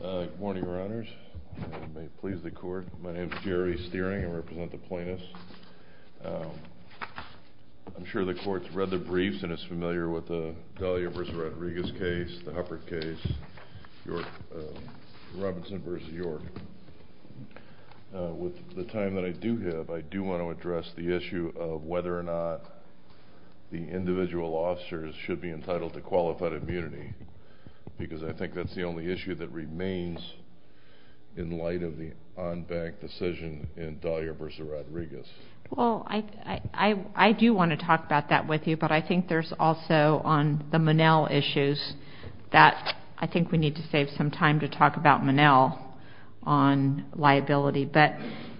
Good morning, your honors. I may please the court. My name is Jerry Steering. I represent the plaintiffs. I'm sure the court's read the briefs and is familiar with the Dahlia v. Rodriguez case, the Hufford case, Robinson v. York. With the time that I do have, I do want to address the issue of whether or not the individual officers should be entitled to qualified immunity because I think that's the only issue that remains in light of the on-bank decision in Dahlia v. Rodriguez. Well, I do want to talk about that with you, but I think there's also on the Monell issues that I think we need to save some time to talk about Monell on liability, but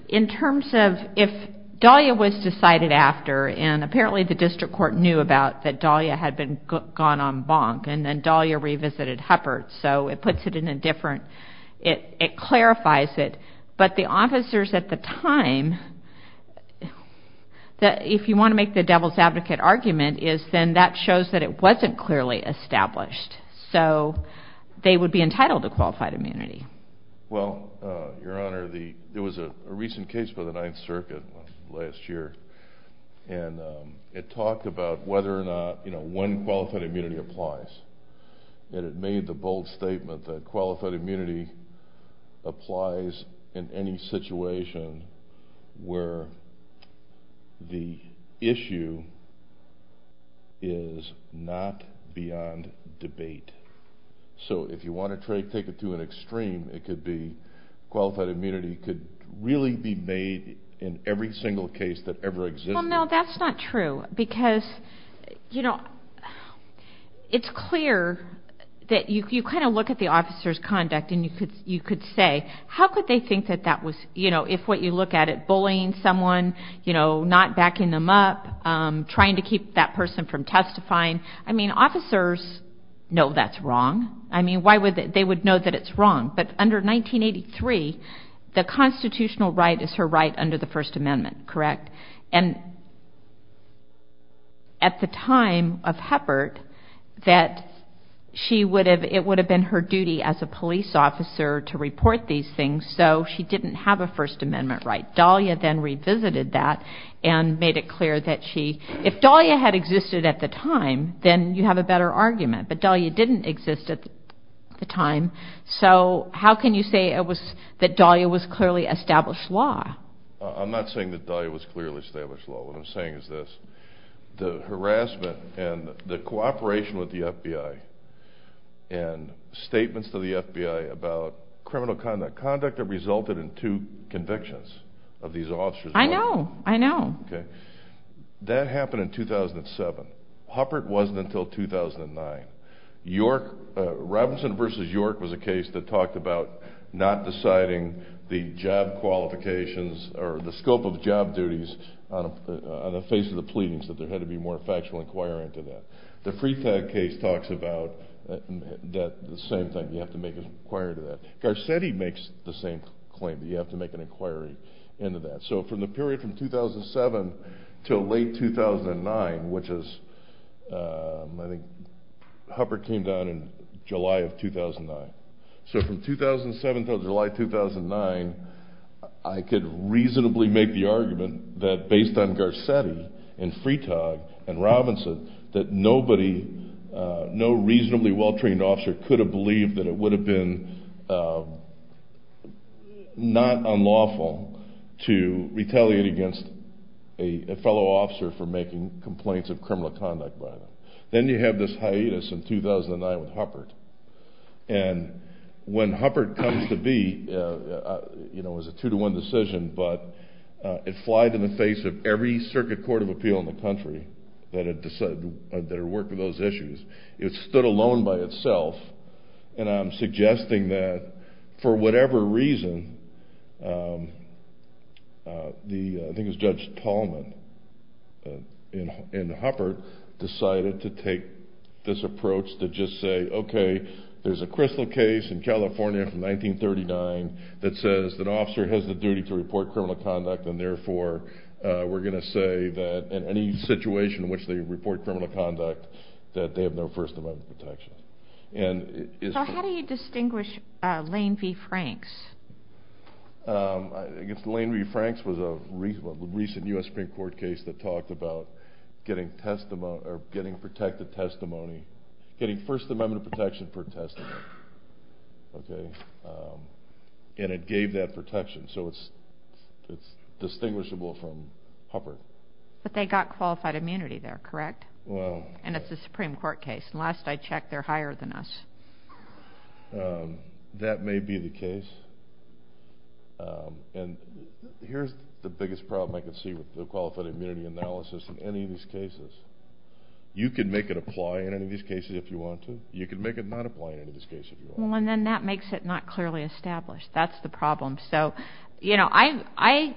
in terms of if Dahlia was decided after and apparently the district court knew about that Dahlia had been gone on bonk and then Dahlia revisited Hufford, so it puts it in a different, it clarifies it, but the officers at the time, if you want to make the devil's advocate argument is then that shows that it wasn't clearly established, so they would be entitled to qualified immunity. Well, Your Honor, there was a recent case by the Ninth Circuit last year and it talked about whether or not one qualified immunity applies and it made the bold statement that qualified immunity applies in any situation where the issue is not beyond debate. So, if you want to take it to an extreme, it could be qualified immunity could really be made in every single case that ever existed. Well, no, that's not true because, you know, it's clear that you kind of look at the officer's conduct and you could say, how could they think that that was, you know, if what you look at it, bullying someone, you know, not backing them up, trying to keep that person from testifying, I mean, officers know that's wrong. I mean, they would know that it's wrong, but under 1983, the constitutional right is her right under the First Amendment, correct, and at the time of Hufford, that it would have been her duty as a police officer to report these things, so she didn't have a First Amendment right. Dahlia then revisited that and made it clear that she, if Dahlia had existed at the time, then you have a better argument, but Dahlia didn't exist at the time, so how can you say that Dahlia was clearly established law? I'm not saying that Dahlia was clearly established law, what I'm saying is this, the harassment and the cooperation with the FBI and statements to the FBI about criminal conduct, conduct that resulted in two convictions of these officers. I know, I know. Okay. That happened in 2007. Hufford wasn't until 2009. York, Robinson v. York was a case that talked about not deciding the job qualifications or the scope of job duties on the face of the pleadings, that there had to be more factual inquiry into that. The Freetog case talks about the same thing, you have to make an inquiry into that. Garcetti makes the same claim, that you have to make an inquiry into that, so from the period from 2007 until late 2009, which is, I think Hufford came down in July of 2009. So from 2007 until July 2009, I could reasonably make the argument that based on Garcetti and Freetog and Robinson, that nobody, no reasonably well trained officer could have believed that it would have been not unlawful to retaliate against a fellow officer for making complaints of criminal conduct by them. Then you have this hiatus in 2009 with Hufford, and when Hufford comes to be, it was a two to one decision, but it flied in the face of every circuit court of appeal in the country that had worked with those issues. It stood alone by itself, and I'm suggesting that for whatever reason, I think it was Judge Tallman and Hufford decided to take this approach to just say, okay, there's a Crystal case in California from 1939 that says that an officer has the duty to report criminal conduct, and therefore we're going to say that in any situation in which they report criminal conduct, that they have done it. So how do you distinguish Lane v. Franks? Lane v. Franks was a recent U.S. Supreme Court case that talked about getting protected testimony, getting First Amendment protection for testimony, and it gave that protection, so it's distinguishable from Hufford. But they got qualified immunity there, correct? And it's a Supreme Court case. Last I checked, they're higher than us. That may be the case. And here's the biggest problem I can see with the qualified immunity analysis in any of these cases. You can make it apply in any of these cases if you want to. You can make it not apply in any of these cases if you want to. Well, and then that makes it not clearly established. That's the problem. So, you know, I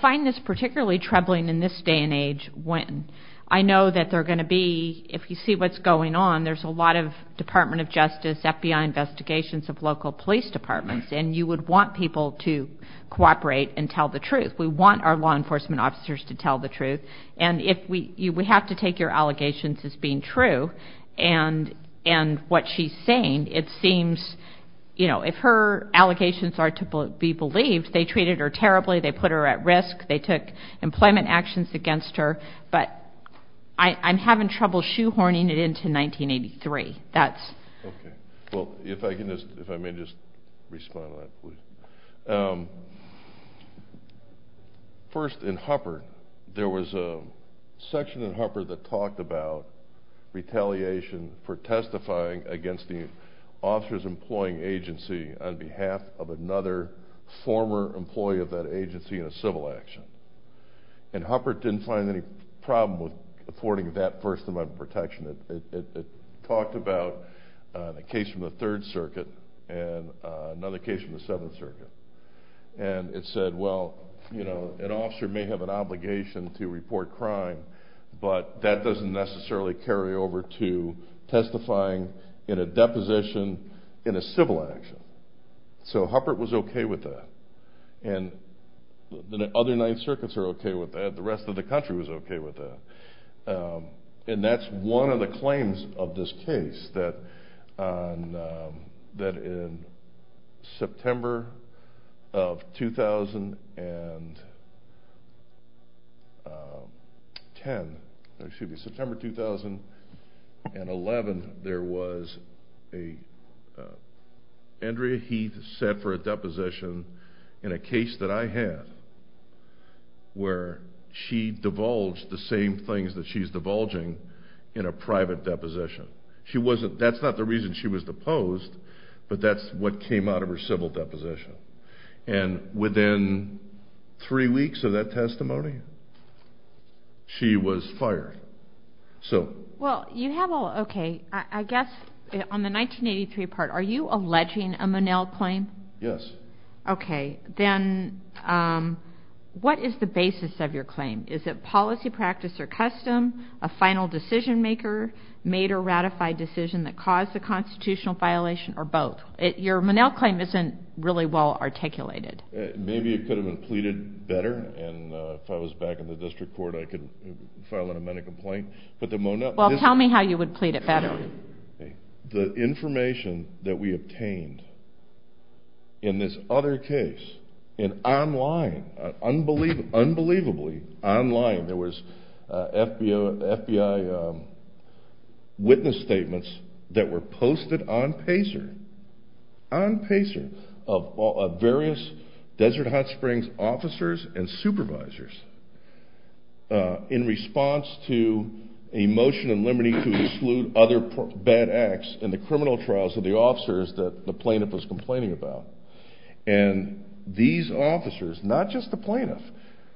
find this particularly troubling in this day and age when I know that there are going to be, if you see what's going on, there's a lot of Department of Justice, FBI investigations of local police departments, and you would want people to cooperate and tell the truth. We want our law enforcement officers to tell the truth. And we have to take your allegations as being true, and what she's saying, it seems, you know, if her allegations are to be believed, they treated her terribly, they put her at risk, they took employment actions against her, but I'm having trouble shoehorning it into 1983. Okay. Well, if I can just, if I may just respond to that, please. First, in Huppert, there was a section in Huppert that talked about retaliation for testifying against the officer's employing agency on behalf of another former employee of that agency in a civil action. And Huppert didn't find any problem with affording that first amendment protection. It talked about a case from the Third Circuit and another case from the Seventh Circuit. And it said, well, you know, an officer may have an obligation to report crime, but that doesn't necessarily carry over to testifying in a deposition in a civil action. So Huppert was okay with that. And the other Ninth Circuits are okay with that. The rest of the country was okay with that. And that's one of the claims of this case, that in September of 2010, or excuse me, September 2011, there was a, Andrea Heath set for a deposition in a case that I had, where she divulged the same things that she's divulging in a private deposition. She wasn't, that's not the reason she was deposed, but that's what came out of her civil deposition. And within three weeks of that testimony, she was fired. So. Well, you have all, okay, I guess on the 1983 part, are you alleging a Monell claim? Yes. Okay. Then what is the basis of your claim? Is it policy, practice, or custom, a final decision maker, made or ratified decision that caused the constitutional violation, or both? Your Monell claim isn't really well articulated. Maybe it could have been pleaded better, and if I was back in the district court, I could file an amendment complaint. But the Monell. Well, tell me how you would plead it better. The information that we obtained in this other case, and online, unbelievably online, there was FBI witness statements that were posted on PACER, on PACER, of various Desert Hot Springs officers and supervisors, in response to a motion in Liberty to exclude other bad acts in the criminal trials of the officers that the plaintiff was complaining about. And these officers, not just the plaintiff,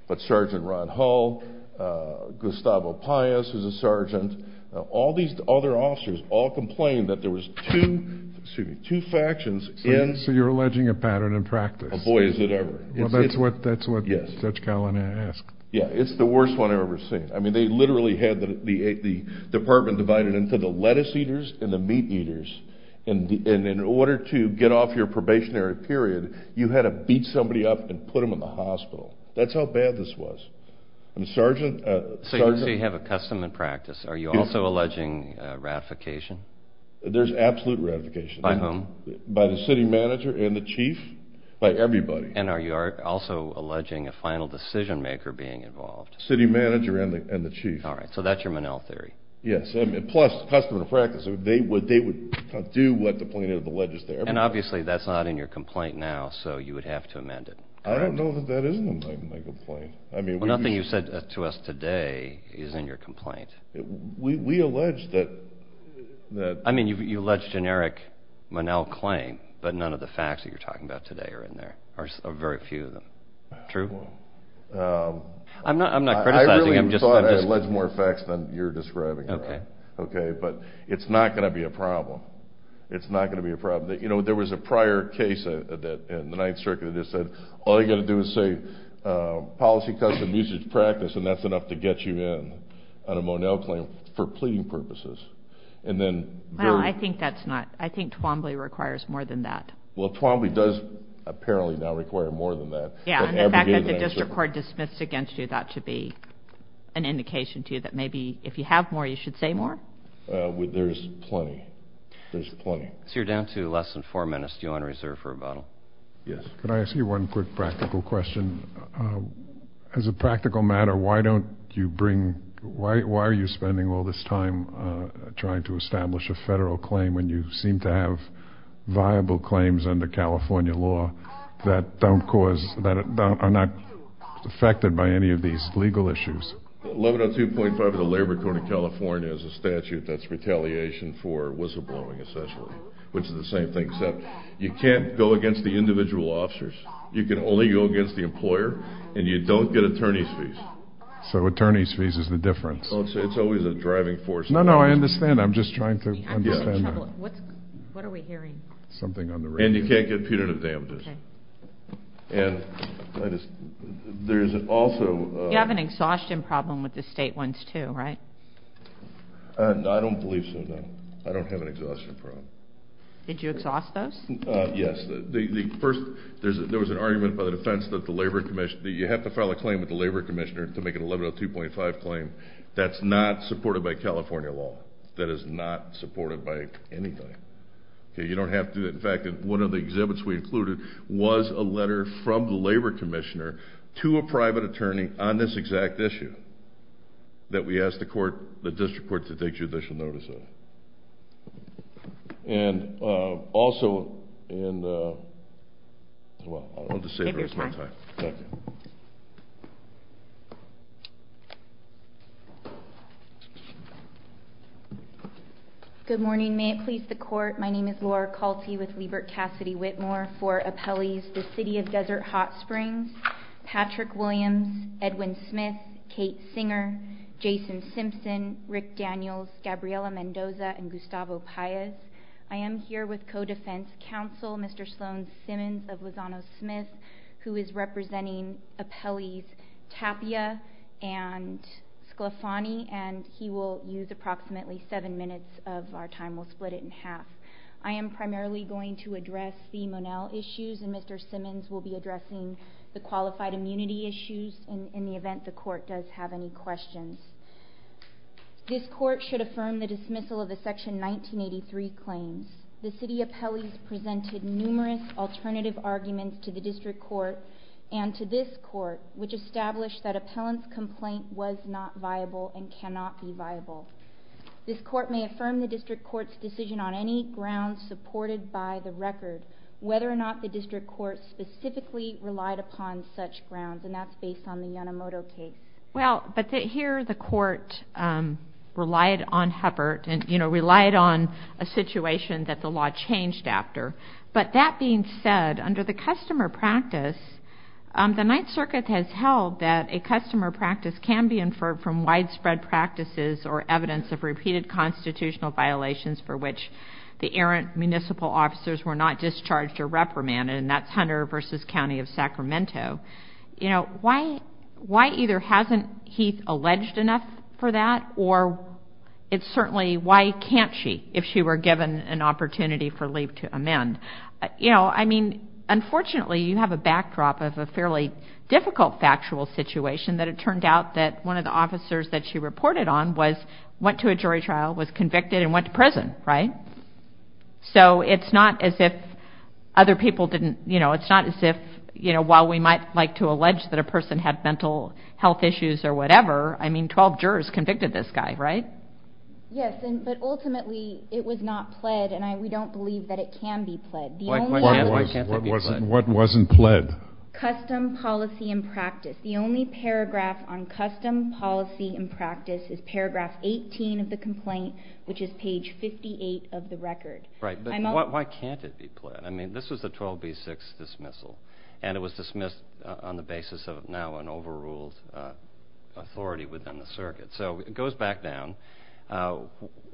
but Sergeant Ron Hull, Gustavo Pais, who's a sergeant, all these other officers all complained that there was two factions in. So you're alleging a pattern in practice. Oh, boy, is it ever. Well, that's what Judge Carlin asked. Yeah, it's the worst one I've ever seen. I mean, they literally had the department divided into the lettuce eaters and the meat eaters, and in order to get off your probationary period, you had to beat somebody up and put them in the hospital. That's how bad this was. So you have a custom and practice. Are you also alleging ratification? There's absolute ratification. By whom? By the city manager and the chief, by everybody. And are you also alleging a final decision maker being involved? City manager and the chief. All right, so that's your Monell theory. Yes, plus custom and practice. They would do what the plaintiff alleged there. And obviously that's not in your complaint now, so you would have to amend it, correct? I don't know that that is in my complaint. Well, nothing you said to us today is in your complaint. We allege that. I mean, you allege generic Monell claim, but none of the facts that you're talking about today are in there, or very few of them. True? I'm not criticizing. I really thought I alleged more facts than you're describing. Okay. Okay, but it's not going to be a problem. It's not going to be a problem. You know, there was a prior case in the Ninth Circuit that said all you've got to do is say policy, custom, usage, practice, and that's enough to get you in on a Monell claim for pleading purposes. Well, I think that's not – I think Twombly requires more than that. Well, Twombly does apparently now require more than that. Yeah, and the fact that the district court dismissed against you that to be an indication to you that maybe if you have more, you should say more? There's plenty. There's plenty. So you're down to less than four minutes. Do you want to reserve for rebuttal? Yes. Could I ask you one quick practical question? As a practical matter, why don't you bring – why are you spending all this time trying to establish a federal claim when you seem to have viable claims under California law that don't cause – that are not affected by any of these legal issues? 1102.5 of the Labor Court of California has a statute that's retaliation for whistleblowing, essentially, which is the same thing except you can't go against the individual officers. You can only go against the employer, and you don't get attorney's fees. So attorney's fees is the difference. It's always a driving force. No, no, I understand. I'm just trying to understand that. What are we hearing? Something on the radio. And you can't get punitive damages. Okay. And there's also – You have an exhaustion problem with the state ones too, right? I don't believe so, no. I don't have an exhaustion problem. Did you exhaust those? Yes. First, there was an argument by the defense that you have to file a claim with the labor commissioner to make an 1102.5 claim that's not supported by California law, that is not supported by anything. You don't have to. In fact, one of the exhibits we included was a letter from the labor commissioner to a private attorney on this exact issue that we asked the district court to take judicial notice of. And also in the – Good morning. May it please the court, my name is Laura Colty with Liebert Cassidy Whitmore for appellees the City of Desert Hot Springs, Patrick Williams, Edwin Smith, Kate Singer, Jason Simpson, Rick Daniels, Gabriella Mendoza, and Gustavo Paez. I am here with co-defense counsel, Mr. Sloan Simmons of Lozano Smith, who is representing appellees Tapia and Sclafani, and he will use approximately seven minutes of our time. We'll split it in half. I am primarily going to address the Monell issues, and Mr. Simmons will be addressing the qualified immunity issues in the event the court does have any questions. This court should affirm the dismissal of the Section 1983 claims. The city appellees presented numerous alternative arguments to the district court and to this court, which established that appellant's complaint was not viable and cannot be viable. This court may affirm the district court's decision on any grounds supported by the record, whether or not the district court specifically relied upon such grounds, and that's based on the Yanomoto case. Well, but here the court relied on Huppert and, you know, relied on a situation that the law changed after. But that being said, under the customer practice, the Ninth Circuit has held that a customer practice can be inferred from widespread practices or evidence of repeated constitutional violations for which the errant municipal officers were not discharged or reprimanded, and that's Hunter v. County of Sacramento. You know, why either hasn't Heath alleged enough for that, or it's certainly why can't she if she were given an opportunity for leave to amend? You know, I mean, unfortunately you have a backdrop of a fairly difficult factual situation that it turned out that one of the officers that she reported on went to a jury trial, was convicted, and went to prison, right? So it's not as if other people didn't, you know, it's not as if, you know, while we might like to allege that a person had mental health issues or whatever, I mean, 12 jurors convicted this guy, right? Yes, but ultimately it was not pled, and we don't believe that it can be pled. What wasn't pled? Custom, policy, and practice. The only paragraph on custom, policy, and practice is paragraph 18 of the complaint, which is page 58 of the record. Right, but why can't it be pled? I mean, this was the 12B6 dismissal, and it was dismissed on the basis of now an overruled authority within the circuit. So it goes back down.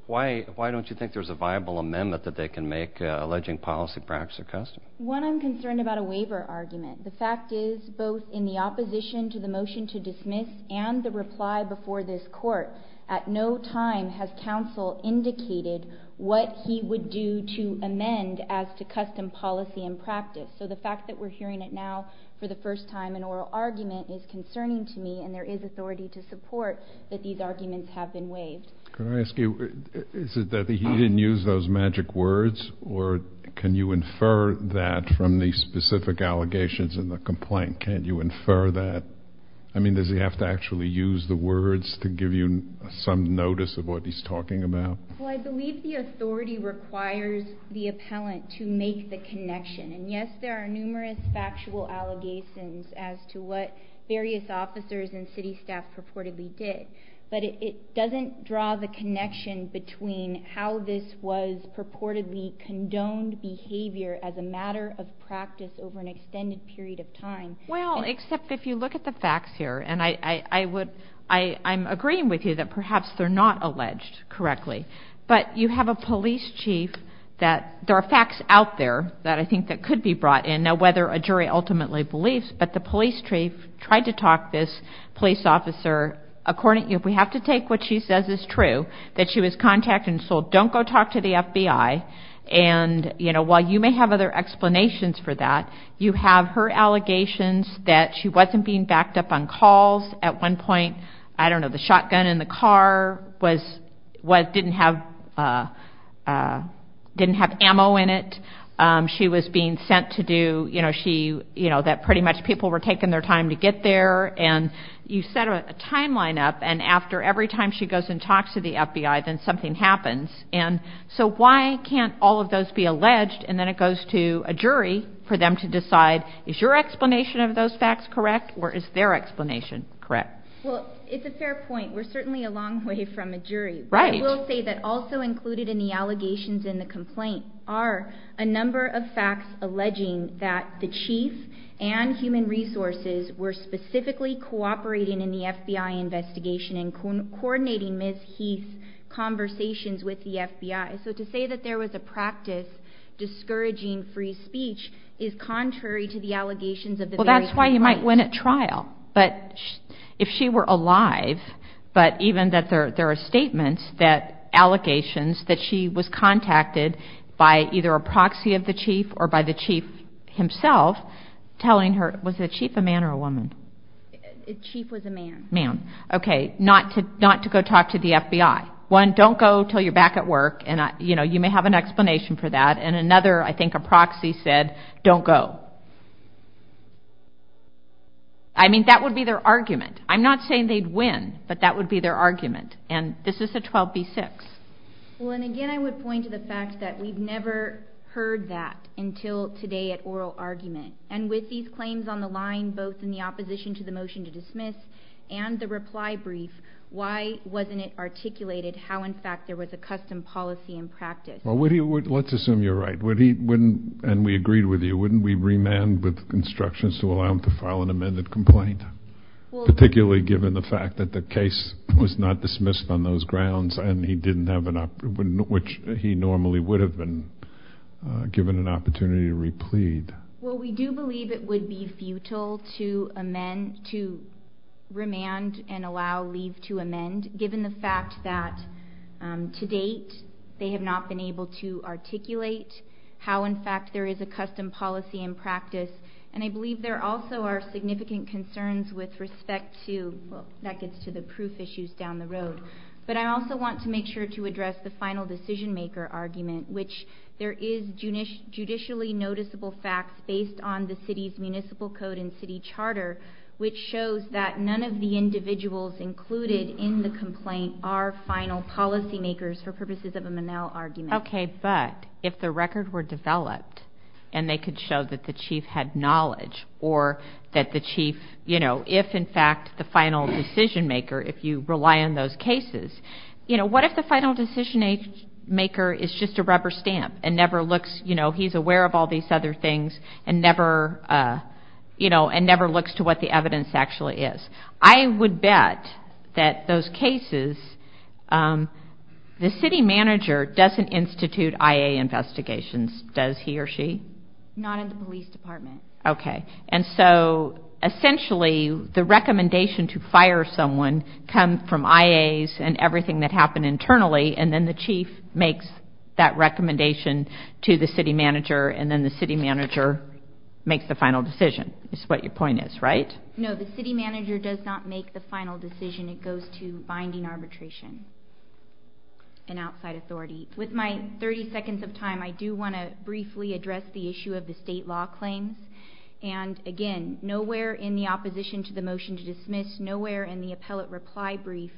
Why don't you think there's a viable amendment that they can make alleging policy, practice, or custom? One, I'm concerned about a waiver argument. The fact is, both in the opposition to the motion to dismiss and the reply before this court, at no time has counsel indicated what he would do to amend as to custom, policy, and practice. So the fact that we're hearing it now for the first time, an oral argument, is concerning to me, and there is authority to support that these arguments have been waived. Can I ask you, is it that he didn't use those magic words, or can you infer that from the specific allegations in the complaint? Can you infer that? I mean, does he have to actually use the words to give you some notice of what he's talking about? Well, I believe the authority requires the appellant to make the connection. And, yes, there are numerous factual allegations as to what various officers and city staff purportedly did, but it doesn't draw the connection between how this was purportedly condoned behavior as a matter of practice over an extended period of time. Well, except if you look at the facts here, and I'm agreeing with you that perhaps they're not alleged correctly, but you have a police chief that there are facts out there that I think that could be brought in, and I don't know whether a jury ultimately believes, but the police chief tried to talk this police officer. According to you, if we have to take what she says is true, that she was contacted and told, don't go talk to the FBI, and while you may have other explanations for that, you have her allegations that she wasn't being backed up on calls. At one point, I don't know, the shotgun in the car didn't have ammo in it. She was being sent to do, you know, that pretty much people were taking their time to get there, and you set a timeline up, and after every time she goes and talks to the FBI, then something happens. And so why can't all of those be alleged, and then it goes to a jury for them to decide, is your explanation of those facts correct, or is their explanation correct? Well, it's a fair point. We're certainly a long way from a jury. Right. I will say that also included in the allegations in the complaint are a number of facts alleging that the chief and human resources were specifically cooperating in the FBI investigation and coordinating Ms. Heath's conversations with the FBI. So to say that there was a practice discouraging free speech is contrary to the allegations of the very complaint. Well, that's why you might win at trial. But if she were alive, but even that there are statements that allegations that she was contacted by either a proxy of the chief or by the chief himself telling her, was the chief a man or a woman? The chief was a man. Man. Okay. Not to go talk to the FBI. One, don't go until you're back at work, and, you know, you may have an explanation for that. And another, I think a proxy said, don't go. I mean, that would be their argument. I'm not saying they'd win, but that would be their argument. And this is a 12B6. Well, and again, I would point to the fact that we've never heard that until today at oral argument. And with these claims on the line, both in the opposition to the motion to dismiss and the reply brief, why wasn't it articulated how, in fact, there was a custom policy in practice? Well, let's assume you're right. And we agreed with you. Wouldn't we remand with instructions to allow him to file an amended complaint, particularly given the fact that the case was not dismissed on those grounds and he didn't have an opportunity, which he normally would have been given an opportunity to replead? Well, we do believe it would be futile to amend, to remand and allow leave to amend, given the fact that to date they have not been able to articulate how, in fact, there is a custom policy in practice. And I believe there also are significant concerns with respect to, well, that gets to the proof issues down the road. But I also want to make sure to address the final decision-maker argument, which there is judicially noticeable facts based on the city's municipal code and city charter, which shows that none of the individuals included in the complaint are final policy makers for purposes of a Monell argument. Okay, but if the record were developed and they could show that the chief had knowledge or that the chief, you know, if, in fact, the final decision-maker, if you rely on those cases, you know, what if the final decision-maker is just a rubber stamp and never looks, you know, he's aware of all these other things and never, you know, and never looks to what the evidence actually is? I would bet that those cases, the city manager doesn't institute IA investigations, does he or she? Not in the police department. Okay. And so essentially the recommendation to fire someone comes from IAs and everything that happened internally, and then the chief makes that recommendation to the city manager, and then the city manager makes the final decision is what your point is, right? No, the city manager does not make the final decision. It goes to binding arbitration and outside authority. With my 30 seconds of time, I do want to briefly address the issue of the state law claims. And, again, nowhere in the opposition to the motion to dismiss, nowhere in the appellate reply brief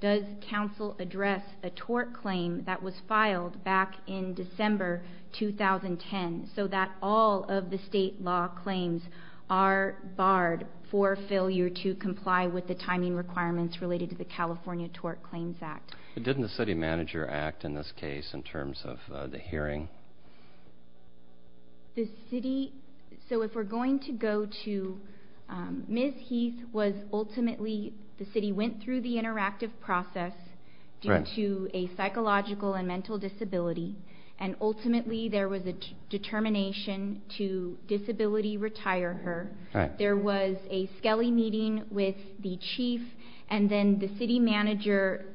does council address a tort claim that was filed back in December 2010 so that all of the state law claims are barred for failure to comply with the timing requirements related to the California Tort Claims Act. Didn't the city manager act in this case in terms of the hearing? The city, so if we're going to go to Ms. Heath was ultimately, the city went through the interactive process due to a psychological and mental disability, and ultimately there was a determination to disability retire her. There was a Skelly meeting with the chief, and then the city manager,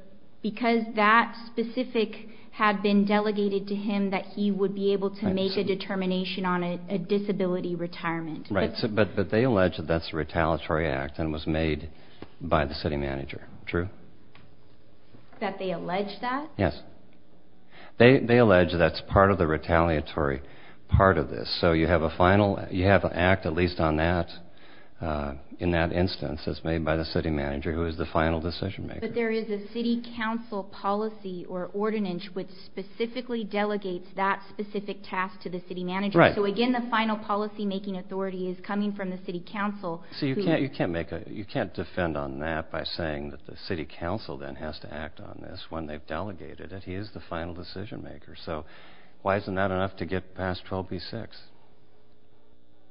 because that specific had been delegated to him that he would be able to make a determination on a disability retirement. Right, but they allege that that's a retaliatory act and it was made by the city manager. True? That they allege that? Yes. They allege that's part of the retaliatory part of this. So you have a final, you have an act at least on that, in that instance, that's made by the city manager who is the final decision maker. But there is a city council policy or ordinance which specifically delegates that specific task to the city manager. Right. So again, the final policymaking authority is coming from the city council. So you can't make a, you can't defend on that by saying that the city council then has to act on this when they've delegated it, he is the final decision maker. So why isn't that enough to get past 12B-6?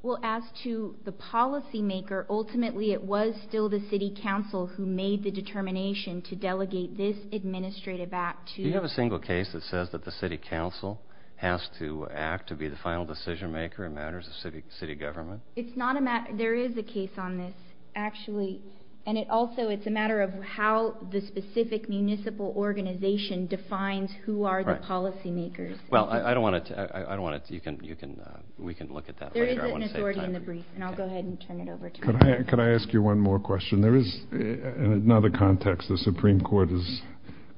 Well, as to the policymaker, ultimately it was still the city council who made the determination to delegate this administrative act to... Do you have a single case that says that the city council has to act to be the final decision maker in matters of city government? It's not a matter, there is a case on this, actually. And it also, it's a matter of how the specific municipal organization defines who are the policymakers. Well, I don't want to, I don't want to, you can, you can, we can look at that. There is an authority in the brief, and I'll go ahead and turn it over to... Could I ask you one more question? There is, in another context, the Supreme Court has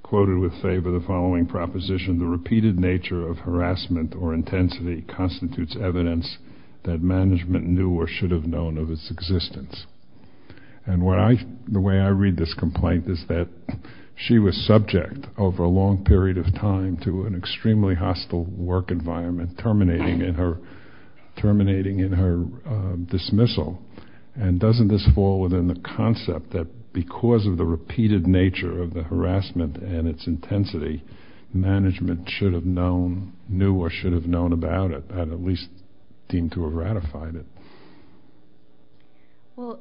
quoted with favor the following proposition, the repeated nature of harassment or intensity constitutes evidence that management knew or should have known of its existence. And what I, the way I read this complaint is that she was subject, over a long period of time, to an extremely hostile work environment, terminating in her, terminating in her dismissal. And doesn't this fall within the concept that because of the repeated nature of the harassment and its intensity, management should have known, knew or should have known about it, and at least deemed to have ratified it? Well,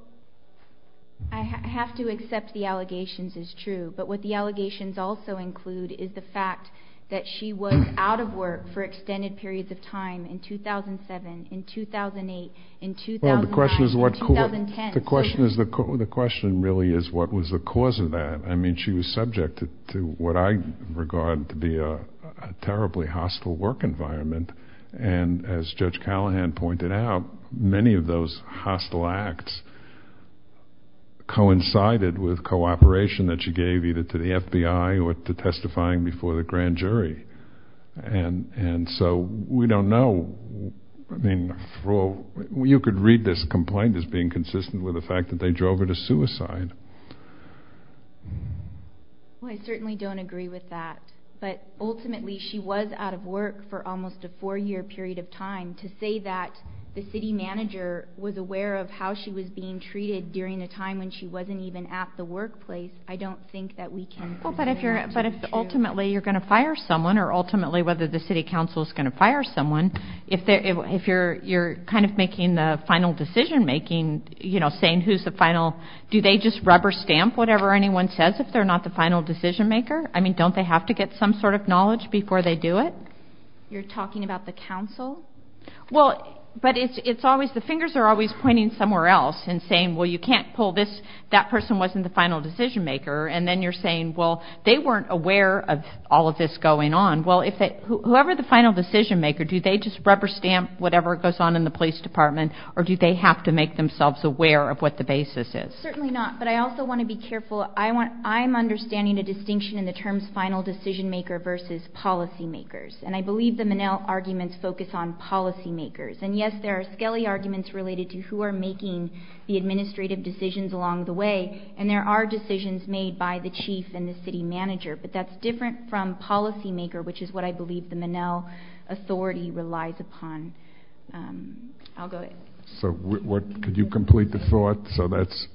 I have to accept the allegations as true. But what the allegations also include is the fact that she was out of work for extended periods of time in 2007, in 2008, in 2009, in 2010. Well, the question is what, the question is, the question really is what was the cause of that. I mean, she was subject to what I regard to be a terribly hostile work environment. And as Judge Callahan pointed out, many of those hostile acts coincided with cooperation that she gave either to the FBI or to testifying before the grand jury. And so we don't know, I mean, you could read this complaint as being consistent with the fact that they drove her to suicide. Well, I certainly don't agree with that. But ultimately she was out of work for almost a four-year period of time. To say that the city manager was aware of how she was being treated during a time when she wasn't even at the workplace, I don't think that we can. Well, but if you're, but if ultimately you're going to fire someone or ultimately whether the city council is going to fire someone, if you're kind of making the final decision making, you know, saying who's the final, do they just rubber stamp whatever anyone says if they're not the final decision maker? I mean, don't they have to get some sort of knowledge before they do it? You're talking about the council? Well, but it's always, the fingers are always pointing somewhere else and saying, well, you can't pull this, that person wasn't the final decision maker. And then you're saying, well, they weren't aware of all of this going on. Well, if they, whoever the final decision maker, do they just rubber stamp whatever goes on in the police department? Or do they have to make themselves aware of what the basis is? Certainly not. But I also want to be careful. I want, I'm understanding a distinction in the terms final decision maker versus policy makers. And I believe the Minnell arguments focus on policy makers. And yes, there are Skelly arguments related to who are making the administrative decisions along the way. And there are decisions made by the chief and the city manager. But that's different from policy maker, which is what I believe the Minnell authority relies upon. I'll go ahead. So what, could you complete the thought? So that's,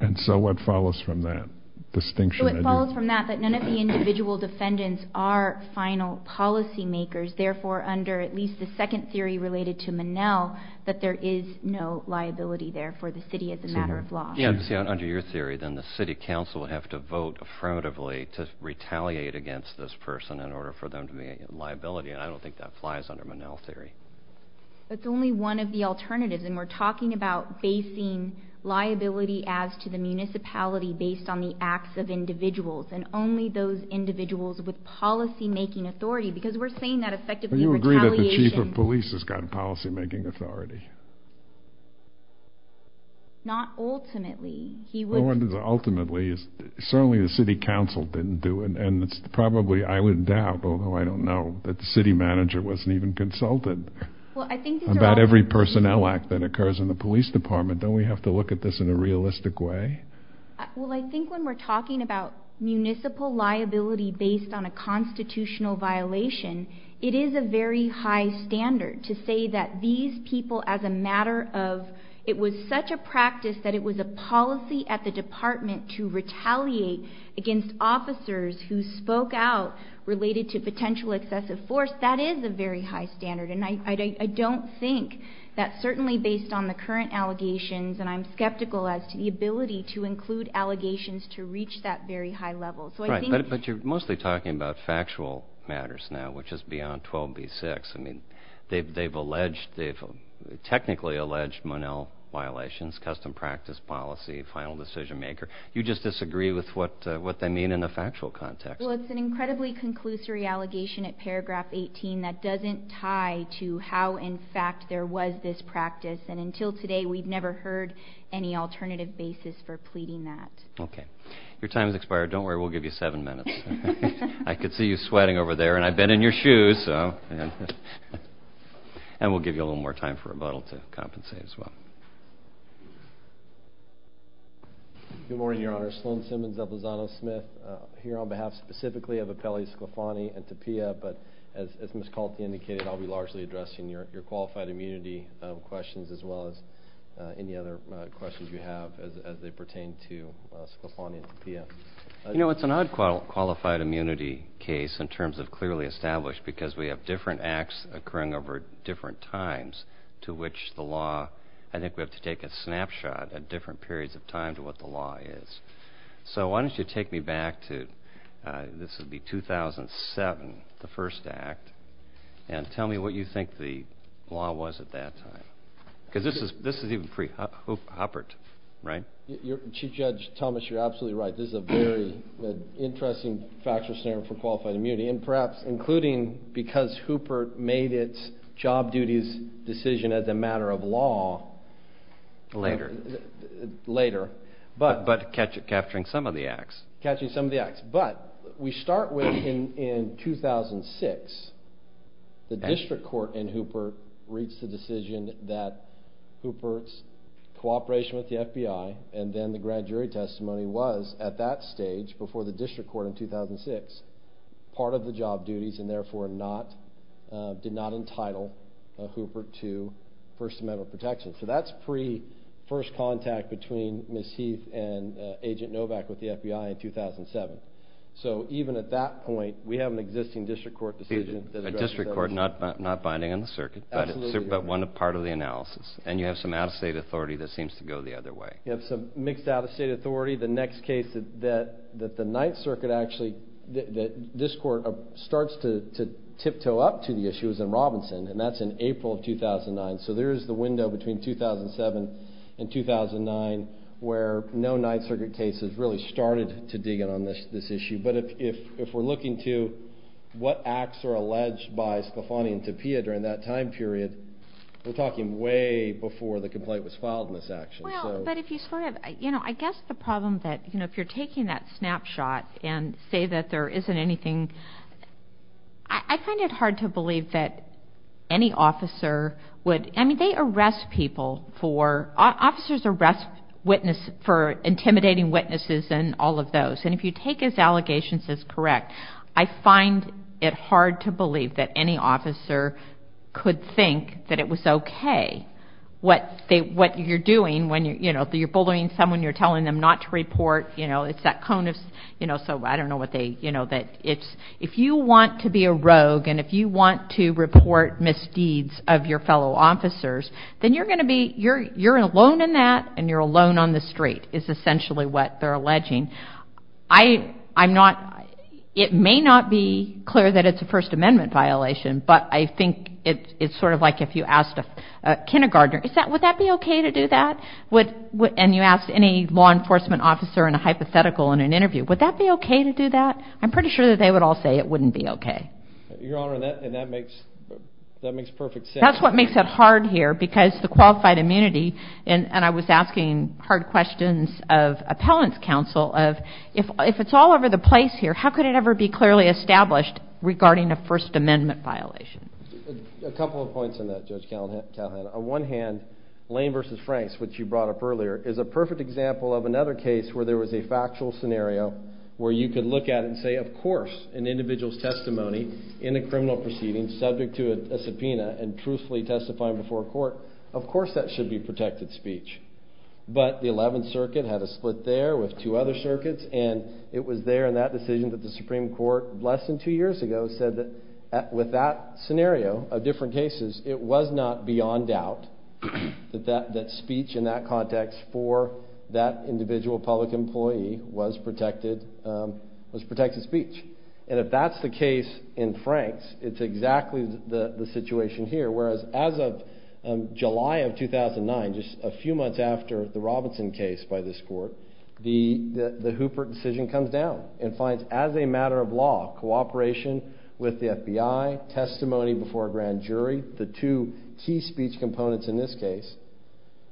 and so what follows from that distinction? So it follows from that, that none of the individual defendants are final policy makers. Therefore, under at least the second theory related to Minnell, that there is no liability there for the city as a matter of law. Yes, under your theory, then the city council would have to vote affirmatively to retaliate against this person in order for them to be in liability. And I don't think that flies under Minnell theory. It's only one of the alternatives. And we're talking about basing liability as to the municipality based on the acts of individuals. And only those individuals with policy making authority. Because we're saying that effectively retaliation. Do you agree that the chief of police has got policy making authority? Not ultimately. Ultimately, certainly the city council didn't do it. And it's probably, I would doubt, although I don't know, that the city manager wasn't even consulted about every personnel act that occurs in the police department. Don't we have to look at this in a realistic way? Well, I think when we're talking about municipal liability based on a constitutional violation, it is a very high standard to say that these people as a matter of, it was such a practice that it was a policy at the department to retaliate against officers who spoke out related to potential excessive force. That is a very high standard. And I don't think that certainly based on the current allegations, and I'm skeptical as to the ability to include allegations to reach that very high level. Right, but you're mostly talking about factual matters now, which is beyond 12b-6. I mean, they've alleged, they've technically alleged Monell violations, custom practice policy, final decision maker. You just disagree with what they mean in a factual context. Well, it's an incredibly conclusory allegation at paragraph 18 that doesn't tie to how in fact there was this practice. And until today, we've never heard any alternative basis for pleading that. Okay. Your time has expired. Don't worry. We'll give you seven minutes. I could see you sweating over there, and I've been in your shoes, so. And we'll give you a little more time for rebuttal to compensate as well. Good morning, Your Honor. Sloan Simmons of Lozano Smith here on behalf specifically of Appellees Sclafani and Tapia. But as Ms. Colton indicated, I'll be largely addressing your qualified immunity questions as well as any other questions you have as they pertain to Sclafani and Tapia. You know, it's an odd qualified immunity case in terms of clearly established because we have different acts occurring over different times to which the law, I think we have to take a snapshot at different periods of time to what the law is. So why don't you take me back to, this would be 2007, the first act, and tell me what you think the law was at that time. Because this is even pre-Huppert, right? Chief Judge Thomas, you're absolutely right. This is a very interesting factual scenario for qualified immunity, and perhaps including because Huppert made its job duties decision as a matter of law. Later. Later. But capturing some of the acts. Catching some of the acts. But we start with in 2006. The district court in Huppert reached the decision that Huppert's cooperation with the FBI and then the grand jury testimony was at that stage before the district court in 2006 part of the job duties and therefore did not entitle Huppert to First Amendment protection. So that's pre-first contact between Ms. Heath and Agent Novak with the FBI in 2007. So even at that point, we have an existing district court decision. A district court, not binding on the circuit. Absolutely. But one part of the analysis. And you have some out-of-state authority that seems to go the other way. You have some mixed out-of-state authority. The next case that the Ninth Circuit actually, that this court starts to tiptoe up to the issue is in Robinson, and that's in April of 2009. So there is the window between 2007 and 2009 where no Ninth Circuit case has really started to dig in on this issue. But if we're looking to what acts are alleged by Scafani and Tapia during that time period, we're talking way before the complaint was filed in this action. Well, but if you sort of, you know, I guess the problem that, you know, if you're taking that snapshot and say that there isn't anything, I find it hard to believe that any officer would, I mean, they arrest people for, officers arrest witnesses for intimidating witnesses and all of those. And if you take his allegations as correct, I find it hard to believe that any officer could think that it was okay. What you're doing when, you know, you're bullying someone, you're telling them not to report, you know, it's that cone of, you know, so I don't know what they, you know, that it's, if you want to be a rogue and if you want to report misdeeds of your fellow officers, then you're going to be, you're alone in that and you're alone on the street is essentially what they're alleging. I'm not, it may not be clear that it's a First Amendment violation, but I think it's sort of like if you asked a kindergartner, would that be okay to do that? And you ask any law enforcement officer in a hypothetical in an interview, would that be okay to do that? I'm pretty sure that they would all say it wouldn't be okay. Your Honor, and that makes perfect sense. That's what makes it hard here because the qualified immunity, and I was asking hard questions of appellant's counsel of if it's all over the place here, how could it ever be clearly established regarding a First Amendment violation? A couple of points on that, Judge Calhoun. On one hand, Lane v. Franks, which you brought up earlier, is a perfect example of another case where there was a factual scenario where you could look at it and say of course an individual's testimony in a criminal proceeding subject to a subpoena and truthfully testifying before a court, of course that should be protected speech. But the 11th Circuit had a split there with two other circuits and it was there in that decision that the Supreme Court less than two years ago said that with that scenario of different cases, it was not beyond doubt that speech in that context for that individual public employee was protected speech. And if that's the case in Franks, it's exactly the situation here, whereas as of July of 2009, just a few months after the Robinson case by this court, the Hooper decision comes down and finds as a matter of law, cooperation with the FBI, testimony before a grand jury, the two key speech components in this case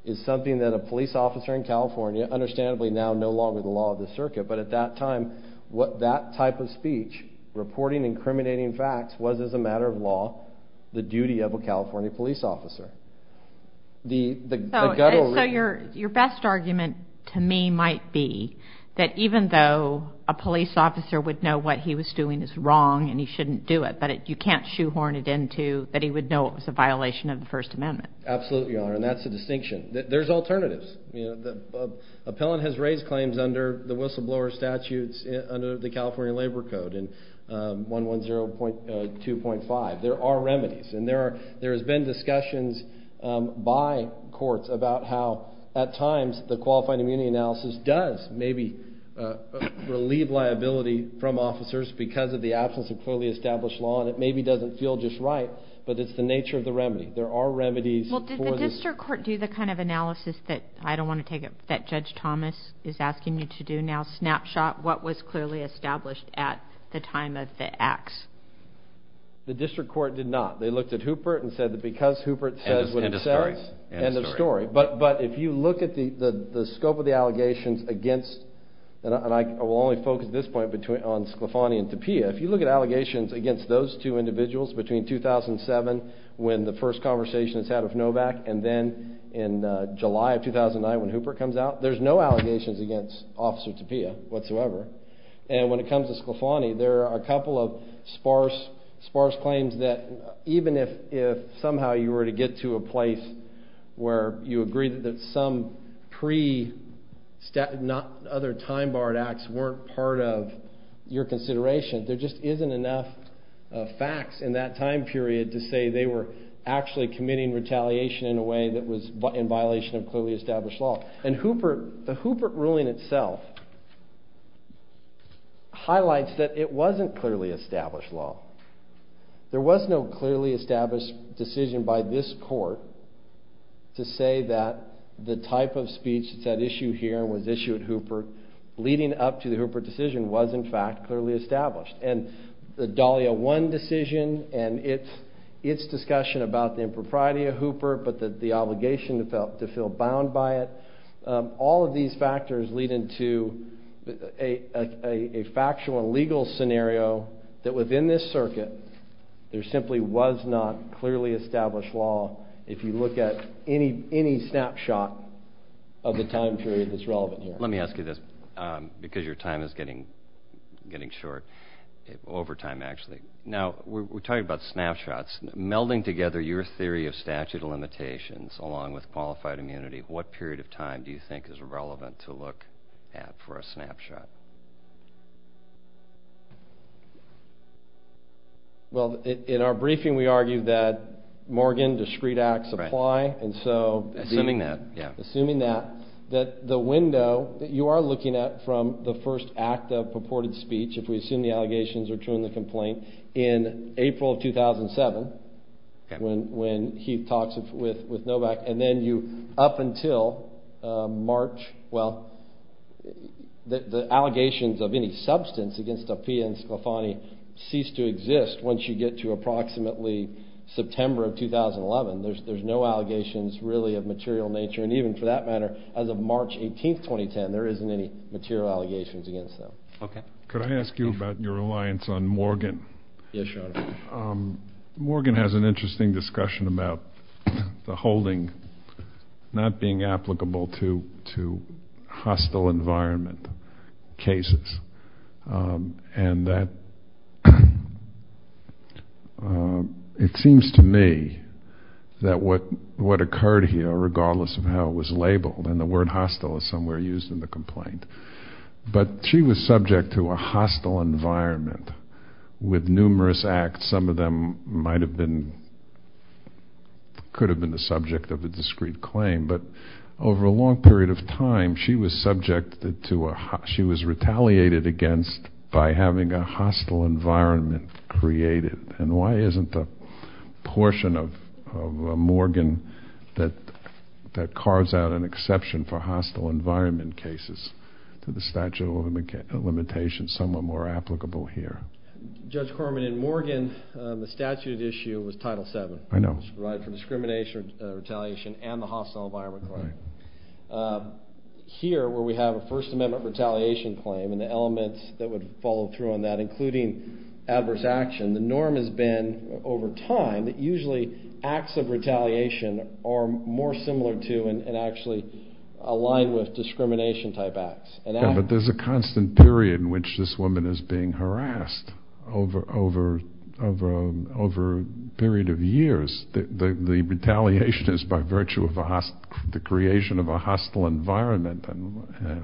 is something that a police officer in California, understandably now no longer the law of the circuit, but at that time what that type of speech, reporting incriminating facts, was as a matter of law the duty of a California police officer. So your best argument to me might be that even though a police officer would know what he was doing is wrong and he shouldn't do it, but you can't shoehorn it into that he would know it was a violation of the First Amendment. Absolutely, Your Honor, and that's the distinction. There's alternatives. The appellant has raised claims under the whistleblower statutes under the California Labor Code in 110.2.5. There are remedies, and there has been discussions by courts about how at times the qualifying immunity analysis does maybe relieve liability from officers because of the absence of clearly established law, and it maybe doesn't feel just right, but it's the nature of the remedy. There are remedies for this. Did the district court do the kind of analysis that I don't want to take up, that Judge Thomas is asking you to do now, snapshot what was clearly established at the time of the acts? The district court did not. They looked at Hooper and said that because Hooper says what he says, end of story. But if you look at the scope of the allegations against, and I will only focus at this point on Sclafani and Tapia, if you look at allegations against those two individuals between 2007 when the first conversation is had with Novak, and then in July of 2009 when Hooper comes out, there's no allegations against Officer Tapia whatsoever. And when it comes to Sclafani, there are a couple of sparse claims that even if somehow you were to get to a place where you agree that some other time-barred acts weren't part of your consideration, there just isn't enough facts in that time period to say they were actually committing retaliation in a way that was in violation of clearly established law. And the Hooper ruling itself highlights that it wasn't clearly established law. There was no clearly established decision by this court to say that the type of speech that's at issue here and was issued at Hooper leading up to the Hooper decision was in fact clearly established. And the Dahlia 1 decision and its discussion about the impropriety of Hooper but the obligation to feel bound by it, all of these factors lead into a factual and legal scenario that within this circuit there simply was not clearly established law if you look at any snapshot of the time period that's relevant here. Let me ask you this because your time is getting short, overtime actually. Now, we're talking about snapshots. Melding together your theory of statute of limitations along with qualified immunity, what period of time do you think is relevant to look at for a snapshot? Well, in our briefing we argued that Morgan discrete acts apply. Assuming that, yeah. Assuming that, that the window that you are looking at from the first act of purported speech, if we assume the allegations are true in the complaint in April of 2007 when he talks with Novak and then you up until March, well, the allegations of any substance against Appiah and Sclafani cease to exist once you get to approximately September of 2011. There's no allegations really of material nature. And even for that matter, as of March 18th, 2010, there isn't any material allegations against them. Okay. Could I ask you about your reliance on Morgan? Yes, Your Honor. Morgan has an interesting discussion about the holding not being applicable to hostile environment cases and that it seems to me that what occurred here, regardless of how it was labeled, and the word hostile is somewhere used in the complaint, but she was subject to a hostile environment with numerous acts. Some of them might have been, could have been the subject of a discrete claim, but over a long period of time she was subject to, she was retaliated against by having a hostile environment created. And why isn't the portion of Morgan that carves out an exception for hostile environment cases to the statute of limitations somewhat more applicable here? Judge Corman, in Morgan, the statute at issue was Title VII. I know. Which provided for discrimination, retaliation, and the hostile environment claim. Right. Here, where we have a First Amendment retaliation claim and the elements that would follow through on that, including adverse action, the norm has been over time that usually acts of retaliation are more similar to and actually align with discrimination type acts. But there's a constant period in which this woman is being harassed over a period of years. The retaliation is by virtue of the creation of a hostile environment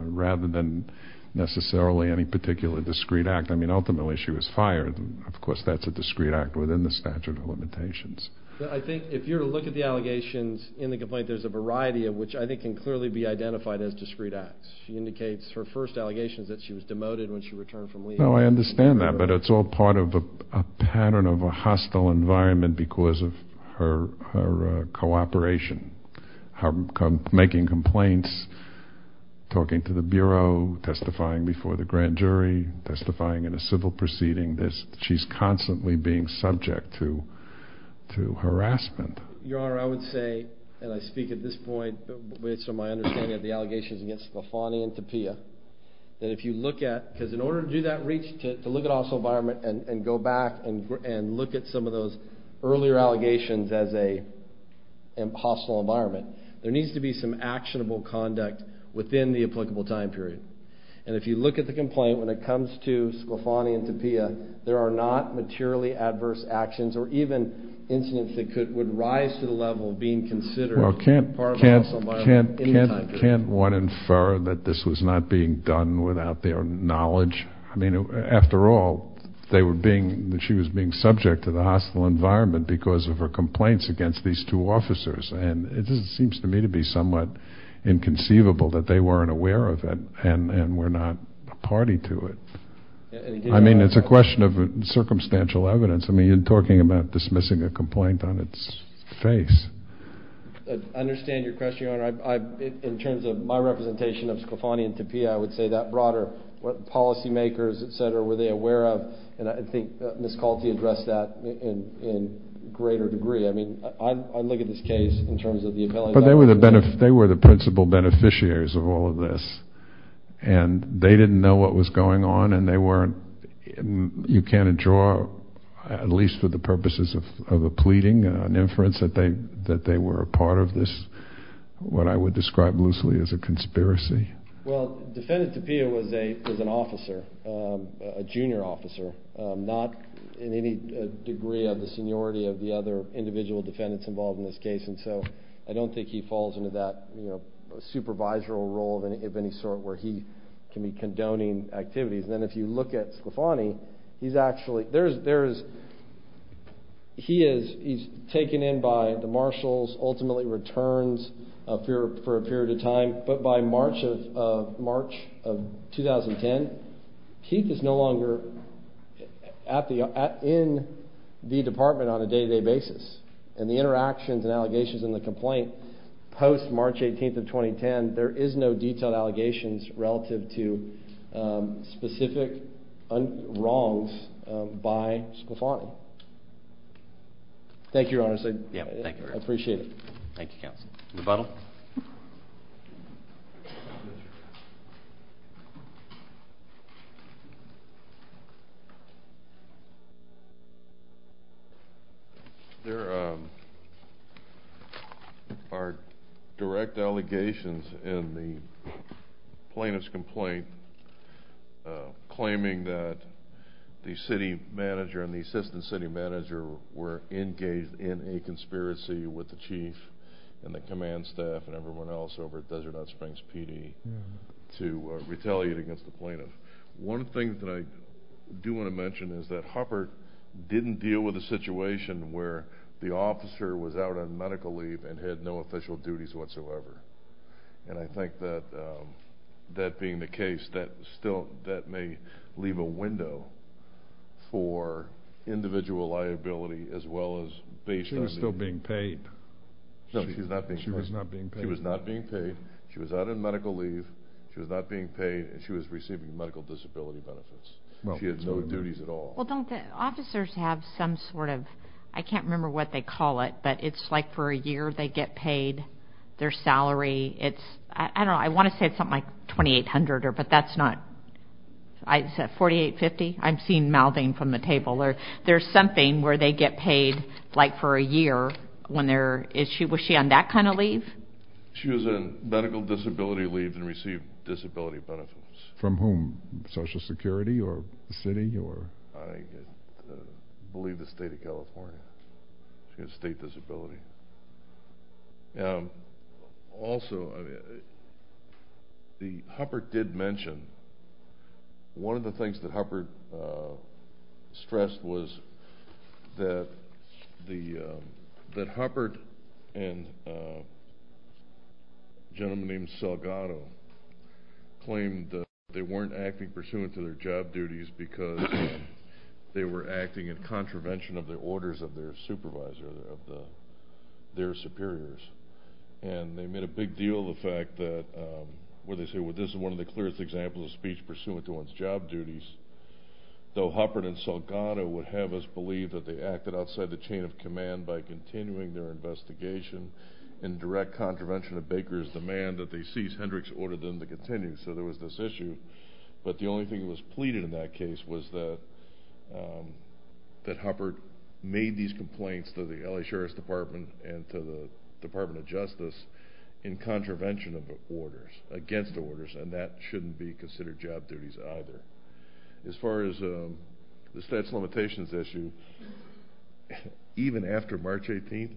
rather than necessarily any particular discrete act. I mean, ultimately she was fired. Of course, that's a discrete act within the statute of limitations. I think if you were to look at the allegations in the complaint, there's a variety of which I think can clearly be identified as discrete acts. She indicates her first allegations that she was demoted when she returned from leave. No, I understand that, but it's all part of a pattern of a hostile environment because of her cooperation, making complaints, talking to the Bureau, testifying before the grand jury, testifying in a civil proceeding. She's constantly being subject to harassment. Your Honor, I would say, and I speak at this point, based on my understanding of the allegations against Lafonte and Tapia, that if you look at, because in order to do that reach, to look at a hostile environment and go back and look at some of those earlier allegations as a hostile environment, there needs to be some actionable conduct within the applicable time period. And if you look at the complaint, when it comes to Lafonte and Tapia, there are not materially adverse actions or even incidents that would rise to the level of being considered part of a hostile environment in the time period. Well, can't one infer that this was not being done without their knowledge? I mean, after all, she was being subject to the hostile environment because of her complaints against these two officers. And it just seems to me to be somewhat inconceivable that they weren't aware of it and were not a party to it. I mean, it's a question of circumstantial evidence. I mean, you're talking about dismissing a complaint on its face. I understand your question, Your Honor. In terms of my representation of Scafani and Tapia, I would say that broader. What policymakers, et cetera, were they aware of? And I think Ms. Colty addressed that in greater degree. I mean, I look at this case in terms of the appellate documents. But they were the principal beneficiaries of all of this. And they didn't know what was going on, and they weren't. You can't draw, at least for the purposes of a pleading, an inference that they were a part of this, what I would describe loosely as a conspiracy. Well, Defendant Tapia was an officer, a junior officer, not in any degree of the seniority of the other individual defendants involved in this case. And so I don't think he falls into that supervisory role of any sort where he can be condoning activities. And then if you look at Scafani, he's actually taken in by the marshals, ultimately returns for a period of time. But by March of 2010, Keith is no longer in the department on a day-to-day basis. And the interactions and allegations in the complaint post-March 18th of 2010, there is no detailed allegations relative to specific wrongs by Scafani. Thank you, Your Honor. I appreciate it. Thank you, counsel. Rebuttal? There are direct allegations in the plaintiff's complaint claiming that the city manager and the assistant city manager were engaged in a conspiracy with the chief and the command staff and everyone else over at Desert Hot Springs PD to retaliate against the plaintiff. One thing that I do want to mention is that Huppert didn't deal with a situation where the officer was out on medical leave and had no official duties whatsoever. And I think that being the case, that may leave a window for individual liability as well as based on… She was still being paid. No, she was not being paid. She was not being paid. She was out on medical leave, she was not being paid, and she was receiving medical disability benefits. She had no duties at all. Well, don't the officers have some sort of… I can't remember what they call it, but it's like for a year they get paid their salary. It's… I don't know. I want to say something like $2,800, but that's not… Is it $4,850? I'm seeing mouthing from the table. There's something where they get paid like for a year when they're… Was she on that kind of leave? She was on medical disability leave and received disability benefits. From whom? Social Security or the city? I believe the state of California. She had a state disability. Also, the… Huppert did mention, one of the things that Huppert stressed was that Huppert and a gentleman named Salgado claimed that they weren't acting pursuant to their job duties because they were acting in contravention of the orders of their supervisor, of their superiors. And they made a big deal of the fact that where they say, well, this is one of the clearest examples of speech pursuant to one's job duties, though Huppert and Salgado would have us believe that they acted outside the chain of command by continuing their investigation in direct contravention of Baker's demand that they cease. Hendricks ordered them to continue, so there was this issue. But the only thing that was pleaded in that case was that Huppert made these complaints to the L.A. Sheriff's Department and to the Department of Justice in contravention of orders, against orders, and that shouldn't be considered job duties either. As far as the statutes of limitations issue, even after March 18th,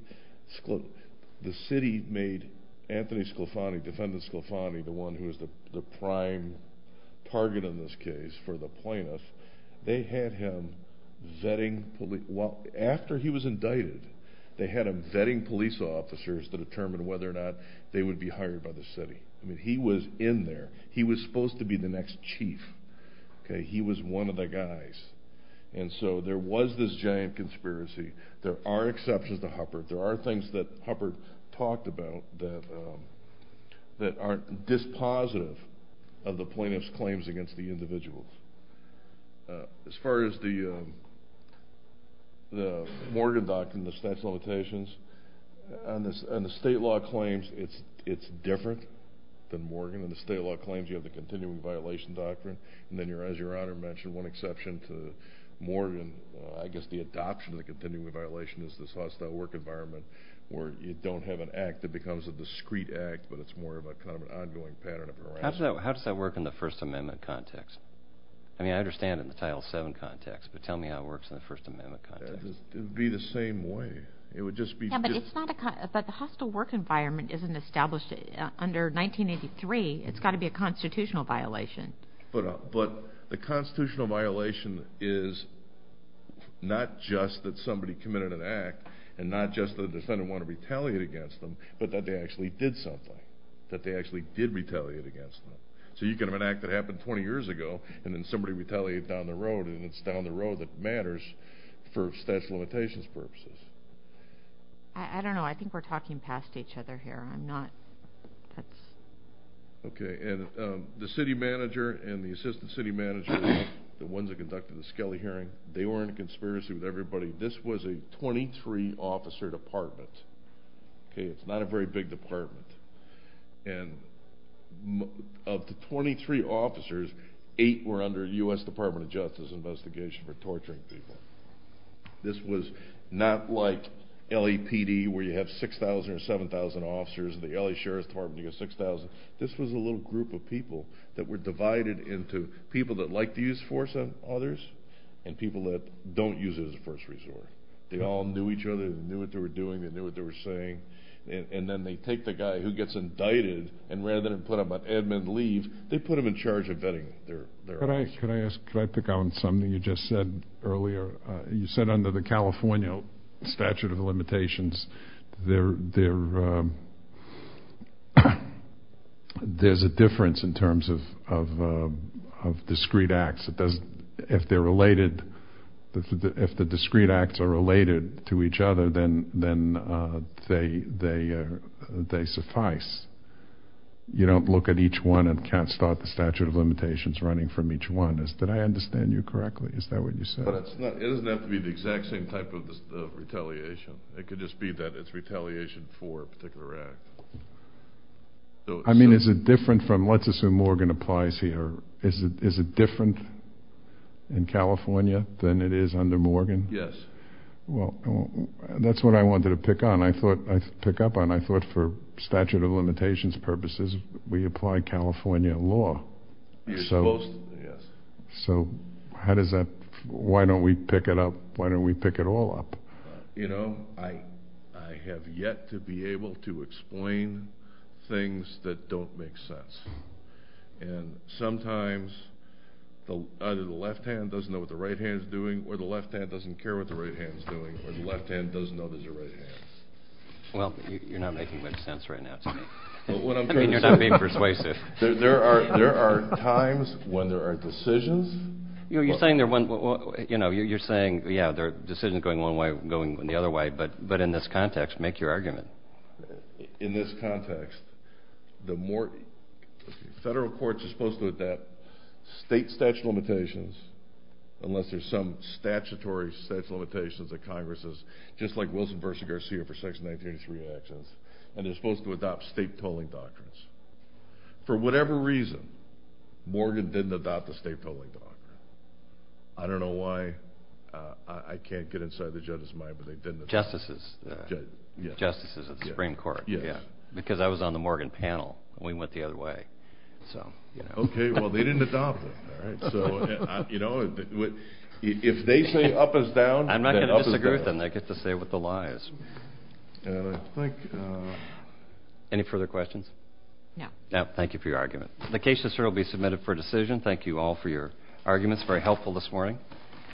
the city made Anthony Sclafani, defendant Sclafani, the one who was the prime target in this case for the plaintiffs, they had him vetting police… Well, after he was indicted, they had him vetting police officers to determine whether or not they would be hired by the city. I mean, he was in there. He was supposed to be the next chief. He was one of the guys. And so there was this giant conspiracy. There are exceptions to Huppert. There are things that Huppert talked about that aren't dispositive of the plaintiffs' claims against the individuals. As far as the Morgan Doctrine, the statutes of limitations, on the state law claims, it's different than Morgan. On the state law claims, you have the continuing violation doctrine. And then, as Your Honor mentioned, one exception to Morgan, I guess the adoption of the continuing violation, is this hostile work environment where you don't have an act that becomes a discrete act, but it's more of an ongoing pattern of harassment. How does that work in the First Amendment context? I mean, I understand it in the Title VII context, but tell me how it works in the First Amendment context. It would be the same way. It would just be… But the hostile work environment isn't established under 1983. It's got to be a constitutional violation. But the constitutional violation is not just that somebody committed an act, and not just that the defendant wanted to retaliate against them, but that they actually did something, that they actually did retaliate against them. So you can have an act that happened 20 years ago, and then somebody retaliated down the road, and it's down the road that matters for statute of limitations purposes. I don't know. I think we're talking past each other here. I'm not… Okay. And the city manager and the assistant city manager, the ones that conducted the Skelly hearing, they were in a conspiracy with everybody. This was a 23-officer department. Okay? It's not a very big department. And of the 23 officers, eight were under a U.S. Department of Justice investigation for torturing people. This was not like LAPD, where you have 6,000 or 7,000 officers, and the L.A. Sheriff's Department, you've got 6,000. This was a little group of people that were divided into people that like to use force on others and people that don't use it as a first resort. They all knew each other. They knew what they were doing. They knew what they were saying. And then they take the guy who gets indicted, and rather than put him on admin leave, they put him in charge of vetting their officers. Could I pick on something you just said earlier? You said under the California statute of limitations, there's a difference in terms of discrete acts. If they're related, if the discrete acts are related to each other, then they suffice. You don't look at each one and can't start the statute of limitations running from each one. Did I understand you correctly? Is that what you said? It doesn't have to be the exact same type of retaliation. It could just be that it's retaliation for a particular act. I mean, is it different from, let's assume Morgan applies here, is it different in California than it is under Morgan? Yes. Well, that's what I wanted to pick up on. I thought for statute of limitations purposes, we apply California law. You're supposed to, yes. So why don't we pick it all up? You know, I have yet to be able to explain things that don't make sense. And sometimes either the left hand doesn't know what the right hand is doing, or the left hand doesn't care what the right hand is doing, or the left hand doesn't know there's a right hand. Well, you're not making much sense right now to me. I mean, you're not being persuasive. There are times when there are decisions. You're saying, yeah, there are decisions going one way, going the other way, but in this context, make your argument. In this context, the federal courts are supposed to adopt state statute of limitations, unless there's some statutory statute of limitations that Congress has, just like Wilson v. Garcia for Section 1983 actions, and they're supposed to adopt state tolling doctrines. For whatever reason, Morgan didn't adopt the state tolling doctrine. I don't know why. I can't get inside the judge's mind, but they didn't. The justices. The justices of the Supreme Court. Yes. Because I was on the Morgan panel, and we went the other way. Okay, well, they didn't adopt it. So, you know, if they say up is down, then up is down. I'm not going to disagree with them. They get to say what the lie is. And I think... Any further questions? No. No, thank you for your argument. The case is here to be submitted for decision. Thank you all for your arguments, very helpful this morning.